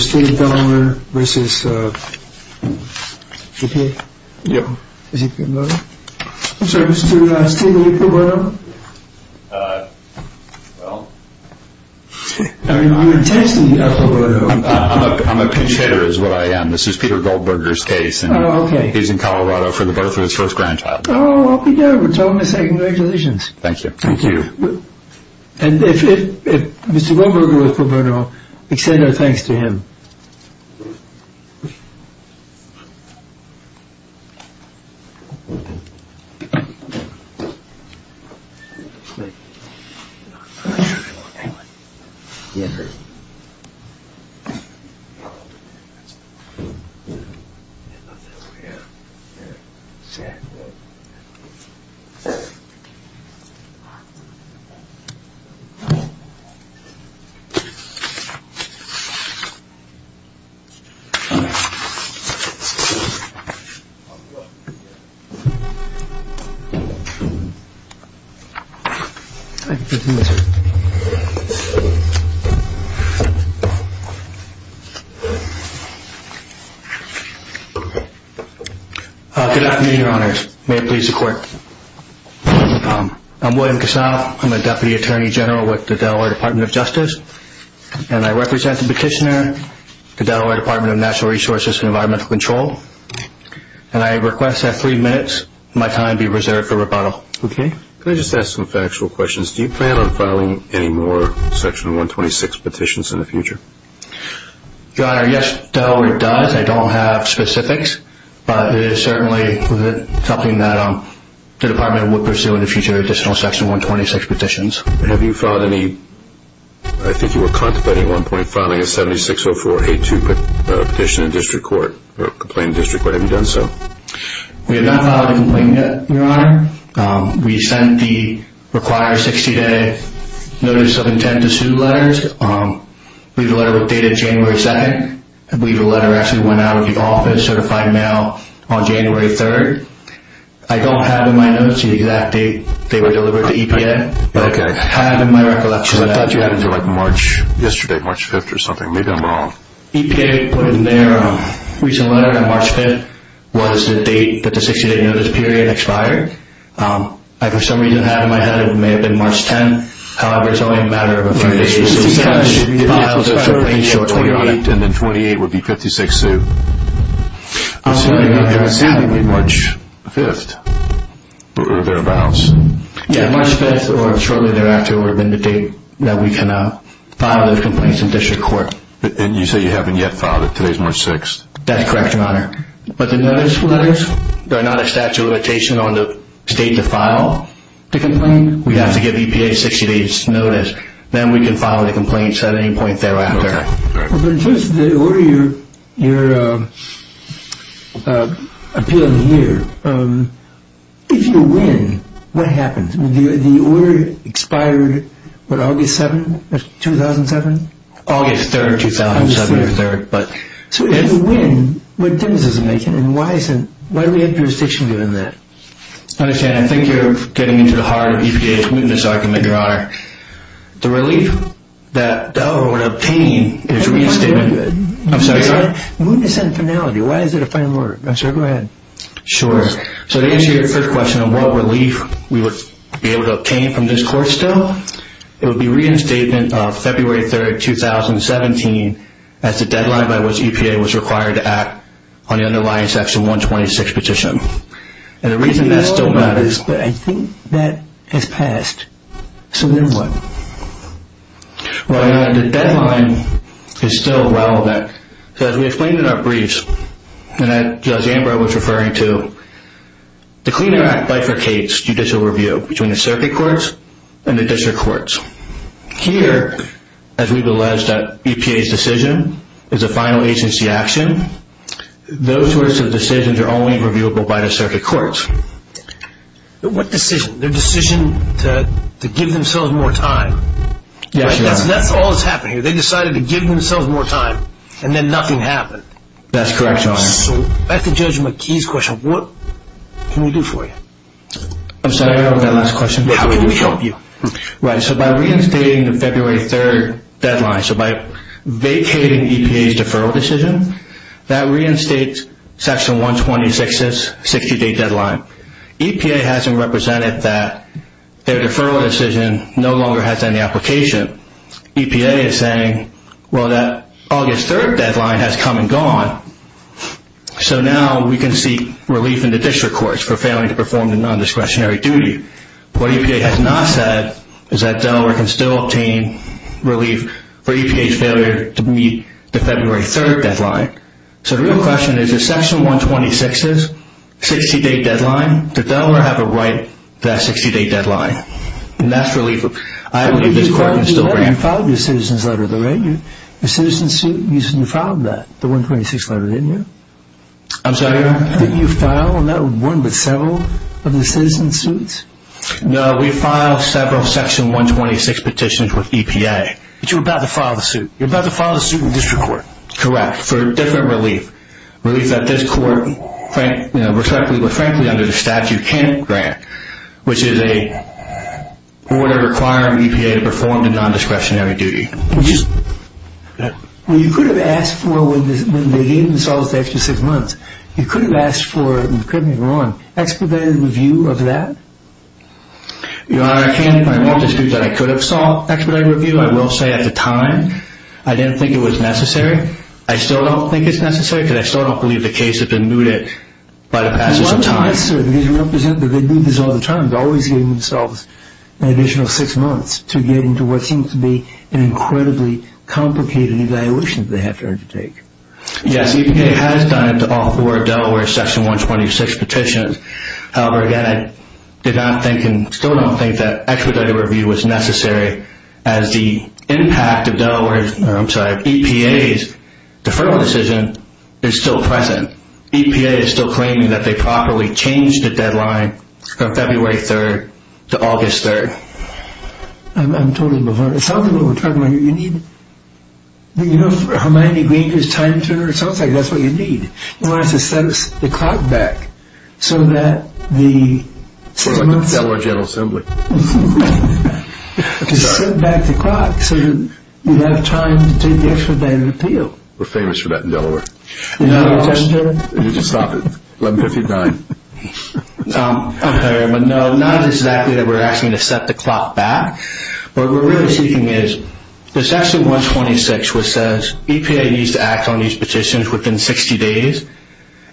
State of Delaware v. Peter Goldberger I'm a pinch hitter is what I am. This is Peter Goldberger's case. He's in Colorado for the birth of his first grandchild. We're told to say congratulations. Thank you. Thank you. And if Mr. Goldberger would extend our thanks to him. Good afternoon, your honors. May it please the court. I'm William Casano. I'm a Deputy Attorney General with the Delaware Department of Justice. And I represent the petitioner, the Delaware Department of Natural Resources and Environmental Control. And I request that three minutes of my time be reserved for rebuttal. Okay. Can I just ask some factual questions? Do you plan on filing any more Section 126 petitions in the future? Your honor, yes, Delaware does. I don't have specifics. But it is certainly something that the department would pursue in the future additional Section 126 petitions. Have you filed any, I think you were contemplating at one point, filing a 760482 petition in district court, or complaint in district court. Have you done so? We have not filed a complaint yet, your honor. We sent the required 60-day notice of intent to sue letters. We have a letter dated January 2nd. I believe the letter actually went out of the office, certified mail, on January 3rd. I don't have in my notes the exact date they were delivered to EPA. Okay. I have in my recollection that. Because I thought you had it until like March, yesterday, March 5th or something. Maybe I'm wrong. EPA put in their recent letter on March 5th was the date that the 60-day notice period expired. I for some reason have in my head it may have been March 10th. However, it's only a matter of a few days. Okay. So we filed the complaint shortly. And then 28 would be 56-sue. I'm assuming it was March 5th or thereabouts. Yeah, March 5th or shortly thereafter would have been the date that we can file those complaints in district court. And you say you haven't yet filed it. Today's March 6th. That's correct, your honor. But the notice letters, they're not a statute of limitation on the state to file the complaint. We have to give EPA a 60-day notice. Then we can file the complaints at any point thereafter. But in terms of the order you're appealing here, if you win, what happens? The order expired, what, August 7th, 2007? August 3rd, 2007. So if you win, what difference does it make? And why do we have jurisdiction given that? I understand. I think you're getting into the heart of EPA's mootness argument, your honor. The relief that the owner would obtain is reinstatement. Mootness and finality. Why is it a final order? Go ahead. Sure. So to answer your first question on what relief we would be able to obtain from this court still, it would be reinstatement of February 3rd, 2017, as the deadline by which EPA was required to act on the underlying section 126 petition. And the reason that still matters. But I think that has passed. So then what? Well, your honor, the deadline is still relevant. So as we explained in our briefs, and as Judge Ambrose was referring to, the Clean Air Act bifurcates judicial review between the circuit courts and the district courts. Here, as we've alleged that EPA's decision is a final agency action, those sorts of decisions are only reviewable by the circuit courts. But what decision? Their decision to give themselves more time. Yes, your honor. That's all that's happened here. They decided to give themselves more time, and then nothing happened. That's correct, your honor. So back to Judge McKee's question. What can we do for you? I'm sorry, what was that last question? How can we help you? Right. So by reinstating the February 3rd deadline, so by vacating EPA's deferral decision, that reinstates Section 126's 60-day deadline. EPA hasn't represented that their deferral decision no longer has any application. EPA is saying, well, that August 3rd deadline has come and gone, so now we can seek relief in the district courts for failing to perform the nondiscretionary duty. What EPA has not said is that Delaware can still obtain relief for EPA's failure to meet the February 3rd deadline. So the real question is, if Section 126 is 60-day deadline, does Delaware have a right to that 60-day deadline? And that's really what I believe this court can still grant. You filed your citizen's letter, though, right? Your citizen's suit, you filed that, the 126 letter, didn't you? I'm sorry? Didn't you file not one but several of the citizen's suits? No, we filed several Section 126 petitions with EPA. But you're about to file the suit. You're about to file the suit in the district court. Correct, for different relief. Relief that this court, frankly, under the statute can't grant, which is a order requiring EPA to perform the nondiscretionary duty. You could have asked for, when they gave themselves the extra six months, you could have asked for, correct me if I'm wrong, expedited review of that? Your Honor, I can't at this point dispute that I could have sought expedited review. I will say at the time, I didn't think it was necessary. I still don't think it's necessary because I still don't believe the case has been mooted by the passage of time. At one time, sir, because we don't present the good news all the time, EPA has always given themselves an additional six months to get into what seems to be an incredibly complicated evaluation they have to undertake. Yes, EPA has done it to all four Delaware Section 126 petitions. However, again, I did not think and still don't think that expedited review was necessary as the impact of EPA's deferral decision is still present. EPA is still claiming that they properly changed the deadline from February 3rd to August 3rd. I'm totally baffled. It sounds like what we're talking about here, you need, you know, Hermione Granger's time turner, it sounds like that's what you need. You want us to set the clock back so that the six months... Sort of like the Delaware General Assembly. To set back the clock so that we have time to take the expedited appeal. We're famous for that in Delaware. Did you stop at 1159? No, not exactly that we're asking to set the clock back. What we're really seeking is the Section 126 which says EPA needs to act on these petitions within 60 days.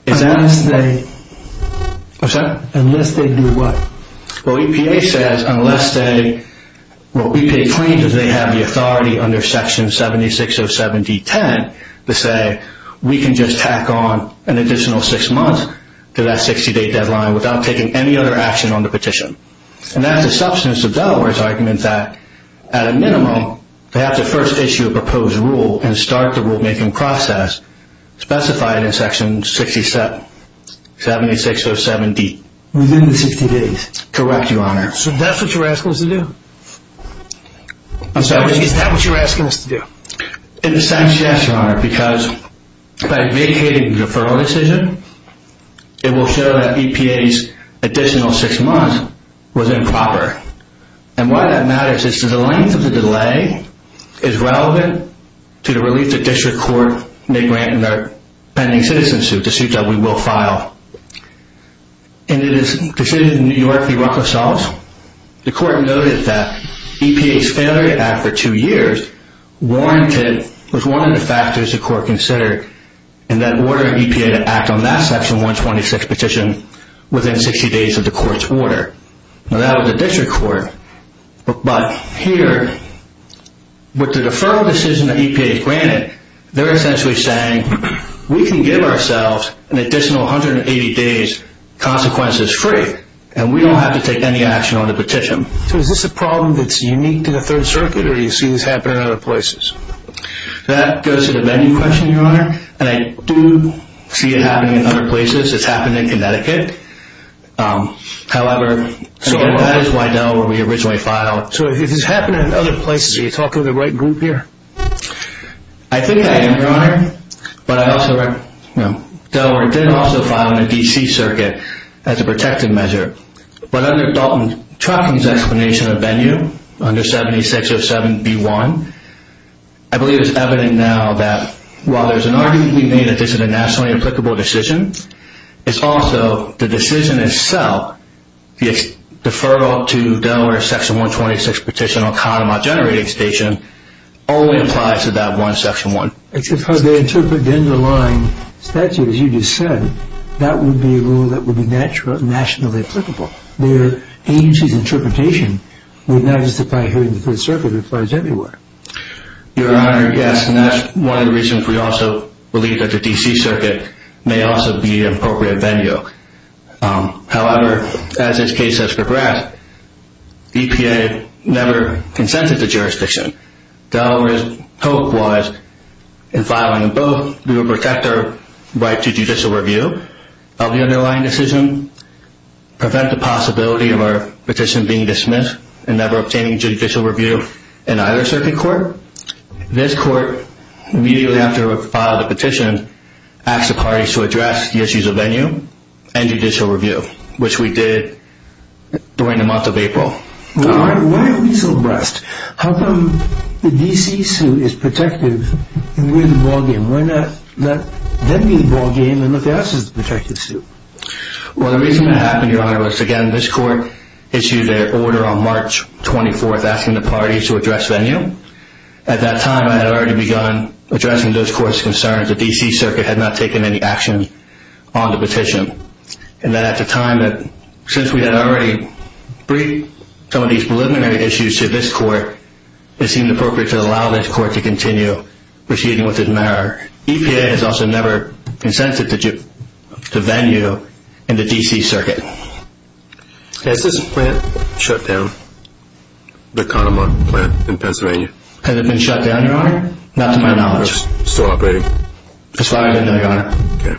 Unless they... What's that? Unless they do what? Well, EPA says unless they, well, EPA claims that they have the authority under Section 7607D10 to say we can just tack on an additional six months to that 60-day deadline without taking any other action on the petition. And that's a substance of Delaware's argument that at a minimum they have to first issue a proposed rule and start the rulemaking process specified in Section 7607D. Within the 60 days. Correct, Your Honor. So that's what you're asking us to do? Is that what you're asking us to do? In a sense, yes, Your Honor, because by vacating the deferral decision, it will show that EPA's additional six months was improper. And why that matters is the length of the delay is relevant to the relief the district court may grant in their pending citizen suit, the suit that we will file. And it is the city of New York that wrote this off. The court noted that EPA's failure to act for two years was one of the factors the court considered in that order of EPA to act on that Section 126 petition within 60 days of the court's order. Now, that was the district court. But here, with the deferral decision that EPA has granted, they're essentially saying we can give ourselves an additional 180 days, consequences-free, and we don't have to take any action on the petition. So is this a problem that's unique to the Third Circuit, or do you see this happen in other places? That goes to the menu question, Your Honor. And I do see it happening in other places. It's happened in Connecticut. However, that is Wiedel where we originally filed. So it has happened in other places. Are you talking to the right group here? I think I am, Your Honor. But Delaware did also file in the D.C. Circuit as a protective measure. But under Dalton Trucking's explanation of venue, under 7607B1, I believe it's evident now that while there's an argument being made that this is a nationally applicable decision, it's also the decision itself, the deferral to Delaware's Section 126 petition on Kahnemaw Generating Station only applies to that one Section 1. If they interpret the underlying statute as you just said, that would be a rule that would be nationally applicable. Their agency's interpretation would not just apply here in the Third Circuit, it applies everywhere. Your Honor, yes, and that's one of the reasons we also believe that the D.C. Circuit may also be an appropriate venue. However, as this case has progressed, EPA never consented to jurisdiction. Delaware's hope was in filing both, we would protect our right to judicial review of the underlying decision, prevent the possibility of our petition being dismissed and never obtaining judicial review in either circuit court. This court, immediately after we filed the petition, asked the parties to address the issues of venue and judicial review, which we did during the month of April. Why are we so abreast? How come the D.C. suit is protective and we're the ballgame? Why not let them be the ballgame and let the others be the protective suit? Well, the reason that happened, Your Honor, was again, this court issued their order on March 24th asking the parties to address venue. At that time, I had already begun addressing those courts' concerns that the D.C. Circuit had not taken any action on the petition. And that at the time that, since we had already briefed some of these preliminary issues to this court, it seemed appropriate to allow this court to continue proceeding with this matter. EPA has also never consented to venue in the D.C. Circuit. Has this plant shut down, the Kahneman plant in Pennsylvania? Has it been shut down, Your Honor? Not to my knowledge. It's still operating. It's fine then, Your Honor. Okay.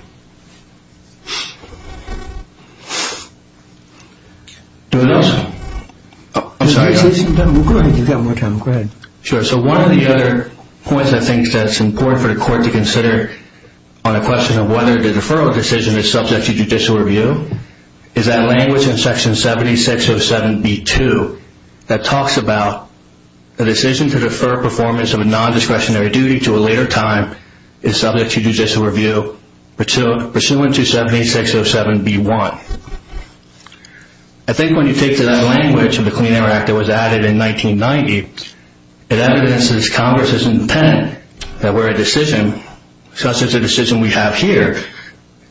Anyone else? Go ahead. You've got more time. Go ahead. Sure. So one of the other points I think that's important for the court to consider on a question of whether the deferral decision is subject to judicial review is that language in Section 7607b2 that talks about a decision to defer performance of a nondiscretionary duty to a later time is subject to judicial review pursuant to 7607b1. I think when you take to that language of the Clean Air Act that was added in 1990, it evidences Congress's intent that where a decision, such as the decision we have here,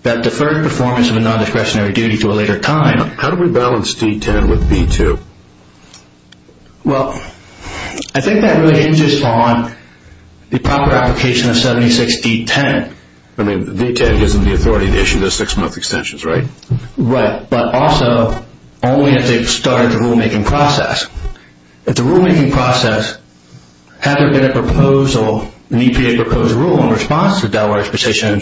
that deferred performance of a nondiscretionary duty to a later time. How do we balance D10 with B2? Well, I think that really hinges on the proper application of 76D10. I mean, D10 gives them the authority to issue those six-month extensions, right? Right, but also only if they've started the rulemaking process. If the rulemaking process hadn't been a proposal, an EPA proposed rule in response to Delaware's position,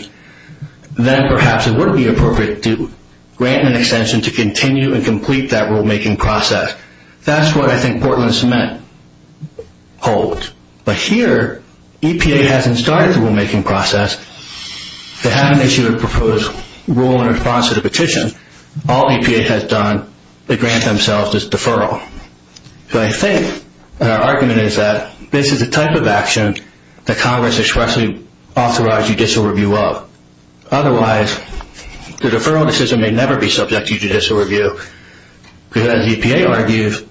then perhaps it would be appropriate to grant an extension to continue and complete that rulemaking process. That's what I think Portland Cement holds. But here EPA hasn't started the rulemaking process. They haven't issued a proposed rule in response to the petition. All EPA has done to grant themselves is deferral. So I think that our argument is that this is the type of action that Congress expressly authorizes judicial review of. Otherwise, the deferral decision may never be subject to judicial review because, as EPA argues,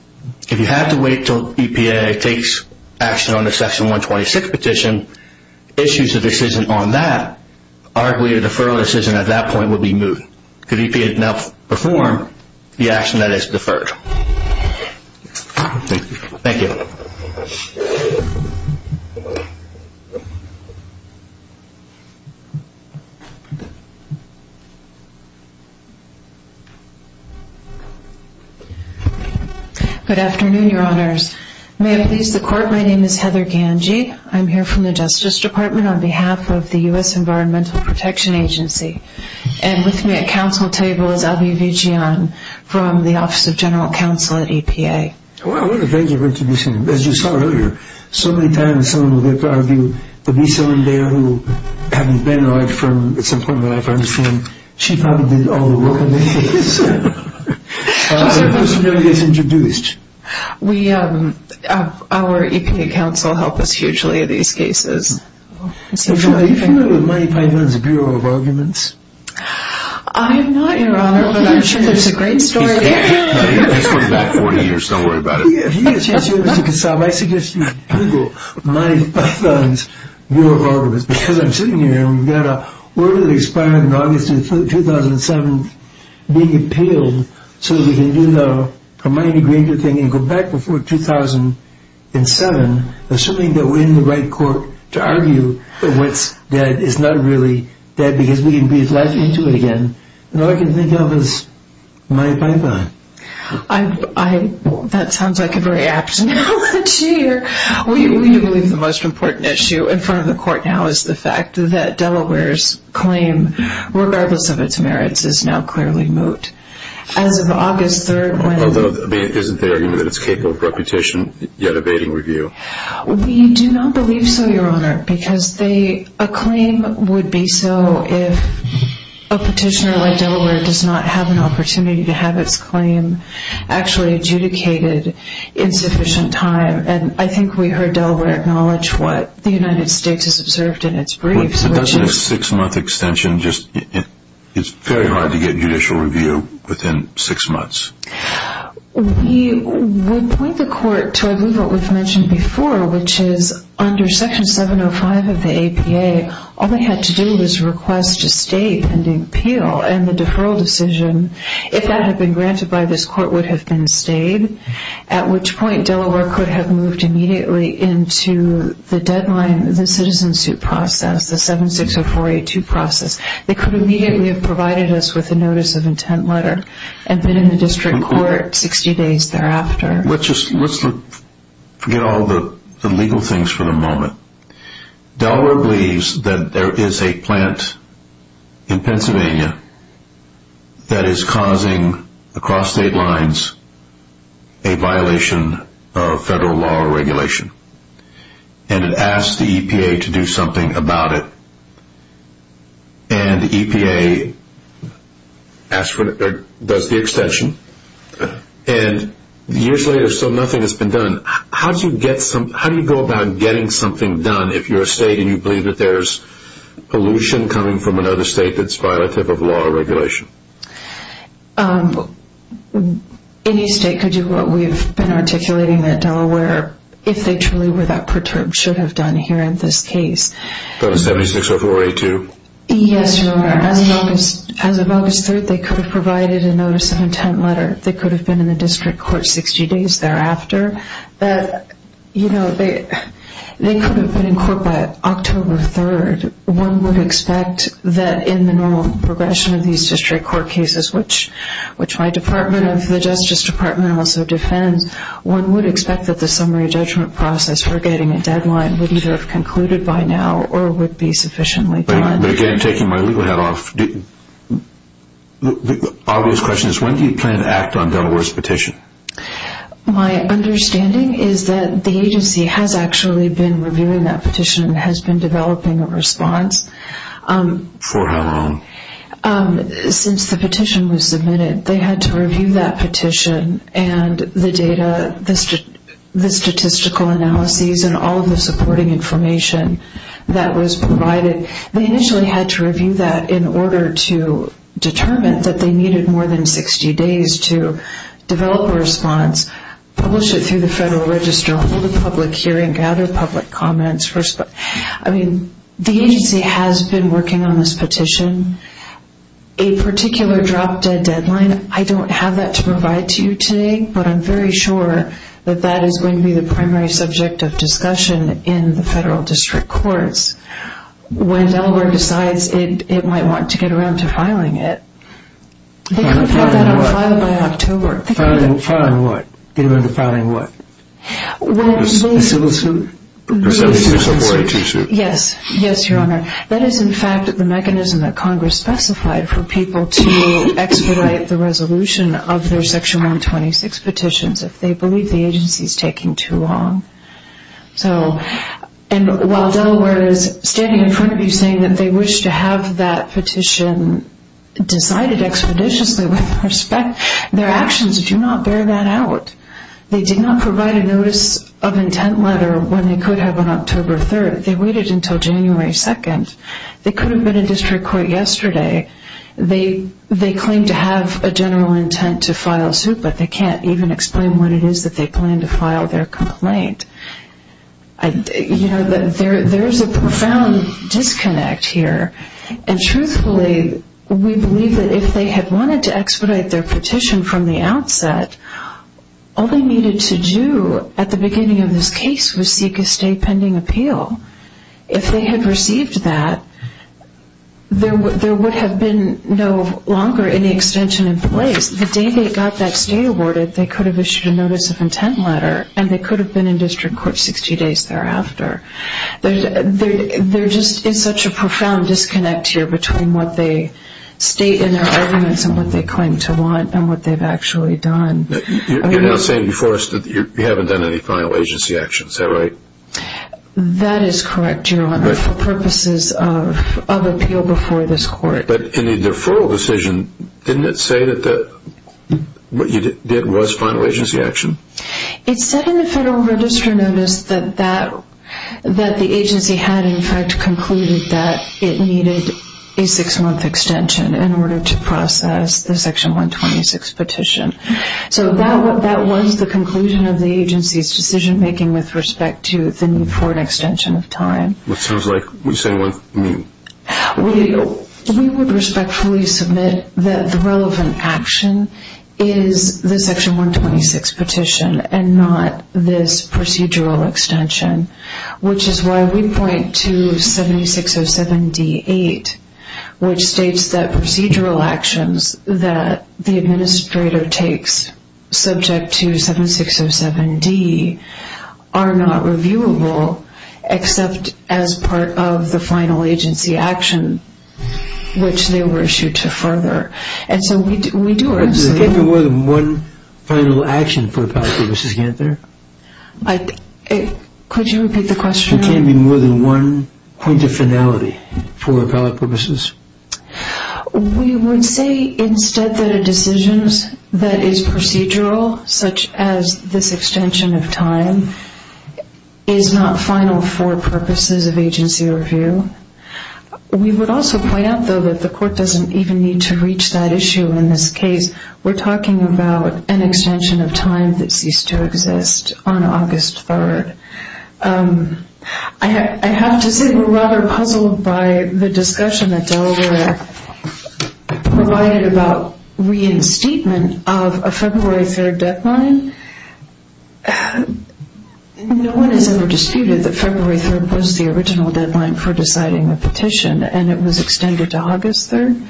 if you have to wait until EPA takes action on the Section 126 petition, issues of decision on that, arguably a deferral decision at that point would be moot because EPA would now perform the action that is deferred. Thank you. Good afternoon, Your Honors. May it please the Court, my name is Heather Gange. I'm here from the Justice Department on behalf of the U.S. Environmental Protection Agency. And with me at Council table is Abhi Vijayan from the Office of General Counsel at EPA. Well, I want to thank you for introducing me. As you saw earlier, so many times someone will get to argue and there will be someone there who, having been in my firm at some point in my life, I understand, she probably did all the work on this case. Who's been introduced? Our EPA counsel helped us hugely in these cases. Are you familiar with Monty Python's Bureau of Arguments? I am not, Your Honor, but I'm sure there's a great story. It's been about 40 years, don't worry about it. If you get a chance here, Mr. Kasab, I suggest you Google Monty Python's Bureau of Arguments because I'm sitting here and we've got a order that expired in August 2007 being appealed so we can do the Hermione Granger thing and go back before 2007, assuming that we're in the right court to argue what's dead is not really dead because we can breathe life into it again. All I can think of is Monty Python. That sounds like a very apt analogy. We believe the most important issue in front of the court now is the fact that Delaware's claim, regardless of its merits, is now clearly moot. Although, isn't the argument that it's capable of repetition yet evading review? We do not believe so, Your Honor, because a claim would be so if a petitioner like Delaware does not have an opportunity to have its claim actually adjudicated in sufficient time. I think we heard Delaware acknowledge what the United States has observed in its briefs. It doesn't have a six-month extension. It's very hard to get judicial review within six months. We would point the court to, I believe, what we've mentioned before, which is under Section 705 of the APA, all they had to do was request to state and appeal and the deferral decision, if that had been granted by this court, would have been stayed, at which point Delaware could have moved immediately into the deadline, the citizen suit process, the 760482 process. They could immediately have provided us with a notice of intent letter and been in the district court 60 days thereafter. Let's just forget all the legal things for the moment. Delaware believes that there is a plant in Pennsylvania that is causing, across state lines, a violation of federal law or regulation, and it asks the EPA to do something about it, and the EPA does the extension, and years later, still nothing has been done. How do you go about getting something done if you're a state and you believe that there's a state that's violative of law or regulation? Any state could do what we've been articulating that Delaware, if they truly were that perturbed, should have done here in this case. 760482? Yes, Your Honor. As of August 3rd, they could have provided a notice of intent letter. They could have been in the district court 60 days thereafter. They could have been in court by October 3rd. One would expect that in the normal progression of these district court cases, which my Department of the Justice Department also defends, one would expect that the summary judgment process for getting a deadline would either have concluded by now or would be sufficiently planned. But again, taking my legal hat off, the obvious question is, when do you plan to act on Delaware's petition? My understanding is that the agency has actually been reviewing that response. For how long? Since the petition was submitted, they had to review that petition and the data, the statistical analyses and all of the supporting information that was provided. They initially had to review that in order to determine that they needed more than 60 days to develop a response, publish it through the Federal Register, hold a public hearing, gather public comments. The agency has been working on this petition. A particular drop-dead deadline, I don't have that to provide to you today, but I'm very sure that that is going to be the primary subject of discussion in the federal district courts when Delaware decides it might want to get around to filing it. They could have had that filed by October. Filing what? A civil suit? Yes, Your Honor. That is in fact the mechanism that Congress specified for people to expedite the resolution of their Section 126 petitions if they believe the agency is taking too long. While Delaware is standing in front of you saying that they wish to have that petition decided expeditiously with respect, their actions do not bear that out. They did not provide a notice of intent letter when they could have on October 3rd. They waited until January 2nd. They could have been in district court yesterday. They claim to have a general intent to file a suit, but they can't even explain what it is that they plan to file their complaint. There is a profound disconnect here. And truthfully, we believe that if they had wanted to expedite their case, all they needed to do at the beginning of this case was seek a state pending appeal. If they had received that, there would have been no longer any extension in place. The day they got that state awarded, they could have issued a notice of intent letter and they could have been in district court 60 days thereafter. There just is such a profound disconnect here between what they state in their arguments and what they claim to want and what they've actually done. You're now saying before us that you haven't done any final agency action, is that right? That is correct, Your Honor, for purposes of appeal before this court. But in the deferral decision, didn't it say that what you did was final agency action? It said in the Federal Register notice that the agency had in fact concluded that it needed a six month extension in order to process the Section 126 petition. That was the conclusion of the agency's decision making with respect to the need for an extension of time. We would respectfully submit that the relevant action is the Section 126 petition and not this procedural extension. Which is why we point to 7607D8 which states that procedural actions that the administrator takes subject to 7607D are not reviewable except as part of the final agency action which they were issued to further. Could there be more than one final action for appellate purposes? Could you repeat the question? Could there be more than one point of finality for appellate purposes? We would say instead that a decision that is procedural, such as this extension of time, is not final for purposes of agency review. We would also point out though that the court doesn't even need to reach that issue in this case. We're talking about an extension of time that ceased to exist on August 3rd. I have to say we're rather puzzled by the discussion that Delaware provided about reinstatement of a February 3rd deadline. No one has ever disputed that February 3rd was the original deadline for deciding the petition and it was extended to August 3rd.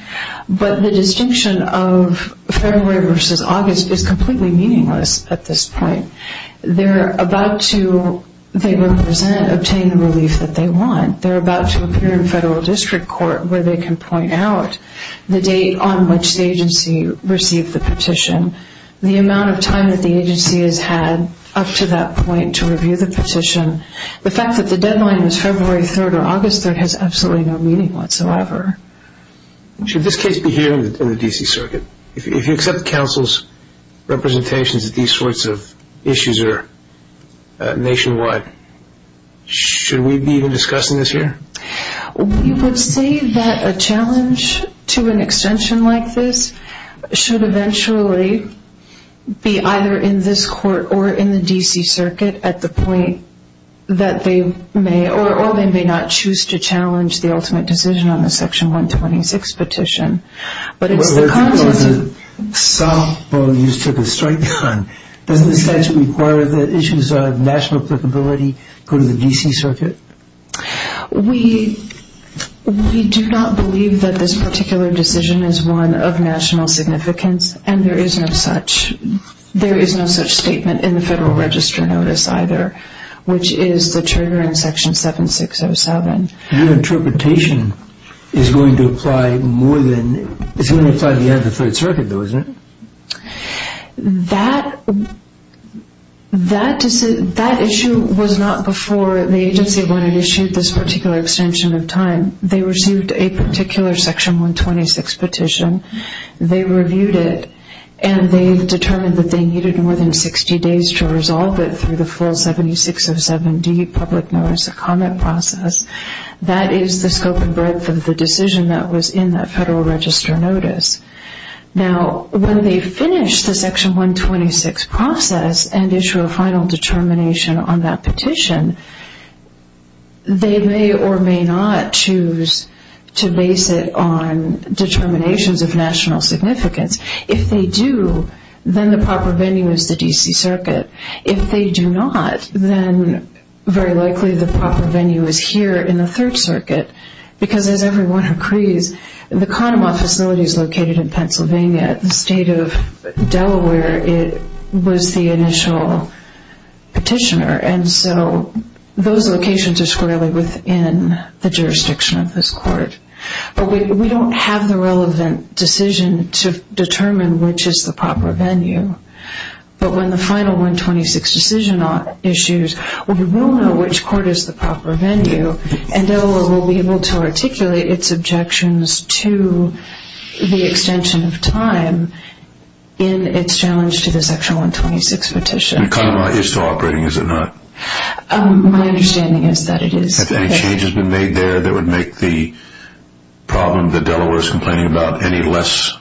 But the distinction of February versus August is completely meaningless at this point. They're about to, they represent obtaining the relief that they want. They're about to appear in federal district court where they can point out the date on which the agency received the petition. The amount of time that the agency has had up to that point to review the petition, the fact that the deadline was February 3rd or August 3rd has absolutely no meaning whatsoever. Should this case be here in the D.C. Circuit? If you accept counsel's representations that these sorts of issues are nationwide, should we be even discussing this here? We would say that a challenge to an extension like this should eventually be either in this court or in the D.C. Circuit at the point that they may or may not choose to challenge the ultimate decision on the Section 126 petition. Well, there's a softball you took a strike on. Doesn't the statute require that issues of national applicability go to the D.C. Circuit? We do not believe that this particular decision is one of national significance and there is no such statement in the Federal Register Notice either, which is the trigger in Section 7607. Your interpretation is going to apply more than, it's going to apply to the end of the Third Circuit though, isn't it? That issue was not before the agency when it issued this particular extension of time. They received a particular Section 126 petition. They reviewed it and they determined that they needed more than 60 days to resolve it through the full 7607D public notice of comment process. That is the scope and breadth of the decision that was in that Federal Register Notice. Now, when they finish the Section 126 process and issue a final determination on that petition, they may or may not choose to base it on determinations of national significance. If they do, then the proper venue is the D.C. Circuit. If they do not, then very likely the proper venue is here in the Third Circuit because, as everyone agrees, the Condemont facility is located in Pennsylvania. The State of Delaware was the initial petitioner and so those locations are squarely within the jurisdiction of this Court. But we don't have the relevant decision to determine which is the proper venue. But when the final 126 decision is issued, we will know which court is the proper venue and Delaware will be able to articulate its objections to the extension of time in its challenge to the Section 126 petition. My understanding is that it is. Have any changes been made there that would make the problem that Delaware is complaining about any less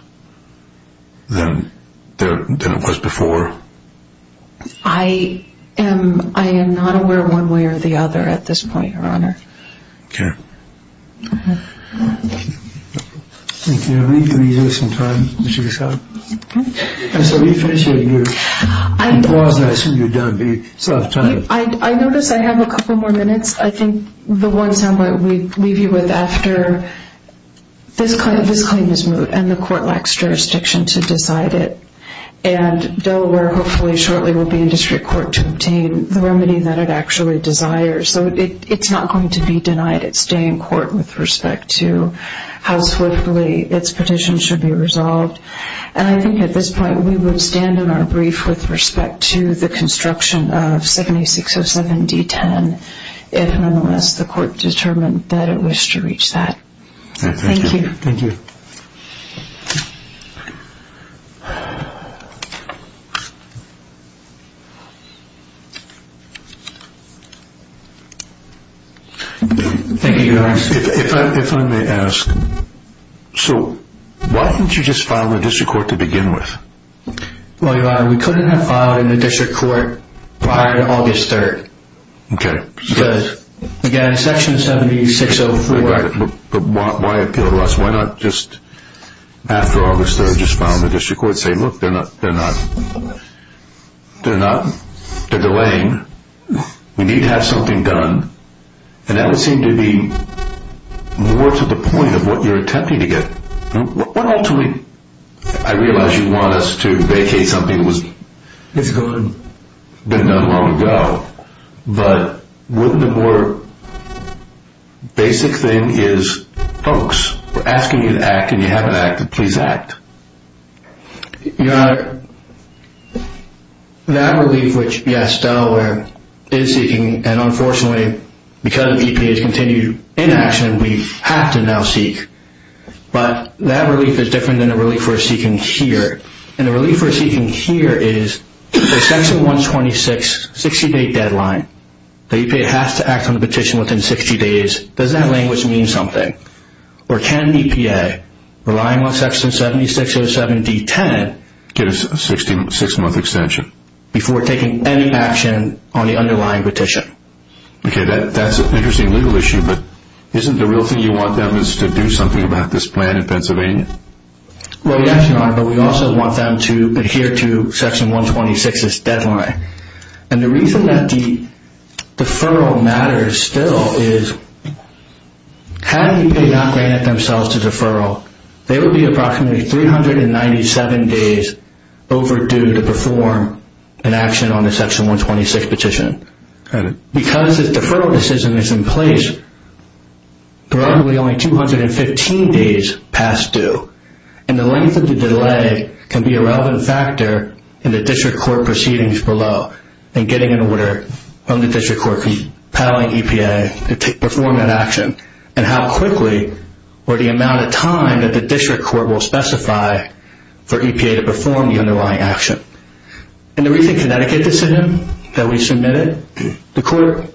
than it was before? I am not aware one way or the other at this point, Your Honor. I notice I have a couple more minutes. I think the one time I would leave you with after this claim is moved and the Court lacks jurisdiction to decide it and Delaware hopefully shortly will be in District Court to obtain the remedy that it actually desires. So it's not going to be denied its stay in Court with respect to how swiftly its petition should be resolved. And I think at this point we would stand in our brief with respect to the construction of 7607 D-10 if and unless the Court determined that it wished to reach that. Thank you. Thank you, Your Honor. If I may ask so why didn't you just file in the District Court to begin with? Well, Your Honor, we couldn't have filed in the District Court prior Why appeal to us? Why not just after August 3rd just file in the District Court and say, look, they're not they're not, they're delaying we need to have something done and that would seem to be more to the point of what you're attempting to get. What ultimately I realize you want us to vacate something that was been done long ago, but wouldn't the more basic thing is folks, we're asking you to act and you haven't acted. Please act. Your Honor, that relief which, yes, Delaware is seeking and unfortunately because EPA has continued inaction, we have to now seek but that relief is different than the relief we're seeking here and the relief we're seeking here is the Section 126 60 day deadline. The EPA has to act on the petition within 60 days does that language mean something? Or can EPA relying on Section 7607D10 get a 6 month extension? Before taking any action on the underlying petition. Okay, that's an interesting legal issue, but isn't the real thing you want them is to do something about this plan in Pennsylvania? Well, yes, Your Honor, but we also want them to adhere to Section 126 this deadline. And the reason that the deferral matters still is, had EPA not granted themselves the deferral, they would be approximately 397 days overdue to perform an action on the Section 126 petition. Because the deferral decision is in place, there are only 215 days past due. And the length of the delay can be a relevant factor in the district court proceedings below and getting an order from the district court compelling EPA to perform an action and how quickly or the amount of time that the district court will specify for EPA to perform the underlying action. In the recent Connecticut decision that we submitted, the court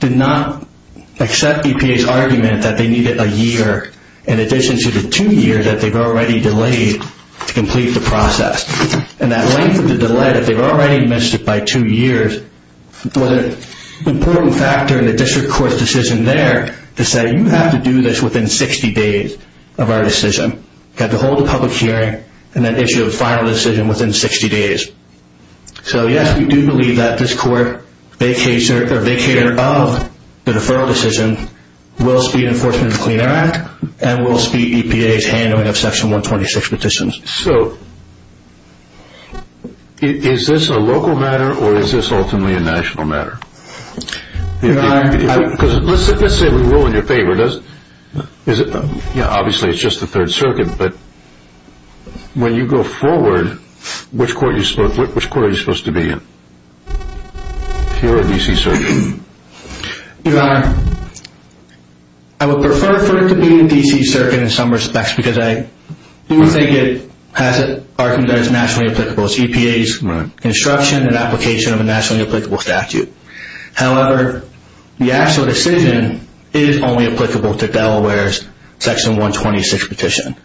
did not accept EPA's argument that they needed a year in addition to two years that they've already delayed to complete the process. And that length of the delay that they've already missed by two years was an important factor in the district court's decision there to say, you have to do this within 60 days of our decision. You have to hold a public hearing and then issue a final decision within 60 days. So, yes, we do believe that this court vacater of the deferral decision will speed Enforcement and Clean Air Act and will speed EPA's handling of Section 126 petitions. So, is this a local matter or is this ultimately a national matter? Let's say we will in your favor. Obviously, it's just the Third Circuit, but when you go forward, which court are you supposed to be in? If you're a D.C. Circuit. Your Honor, I would prefer for it to be a D.C. Circuit in some respects because I do think it has an argument that it's nationally applicable. It's EPA's instruction and application of a nationally applicable statute. However, the actual decision is only applicable to Delaware's Section 126 petition.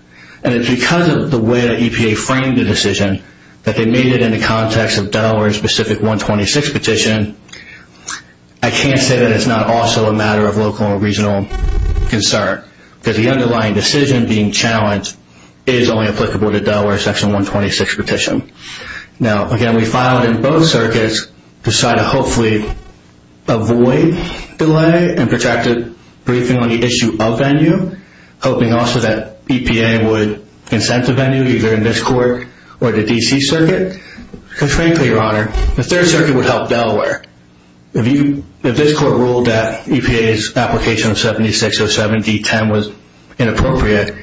And it's because of the way that EPA framed the decision that they made it in the context of Delaware's specific 126 petition. I can't say that it's not also a matter of local or regional concern because the underlying decision being challenged is only applicable to Delaware's Section 126 petition. Now, again, we filed in both circuits to try to hopefully avoid delay and protracted briefing on the issue of venue, hoping also that EPA would consent to venue either in this court or the D.C. Circuit. Frankly, Your Honor, the 3rd Circuit would help Delaware. If this court ruled that EPA's application of 7607 D.10 was inappropriate,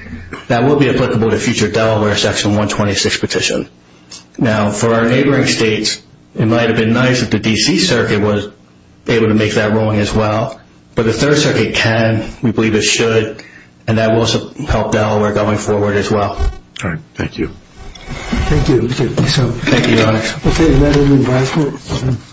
that would be applicable to future Delaware's Section 126 petition. Now, for our neighboring states, it might have been nice if the D.C. Circuit was able to make that ruling as well. But the 3rd Circuit can. We believe it should. And that will help Delaware going forward as well. Thank you. Thank you, Your Honor.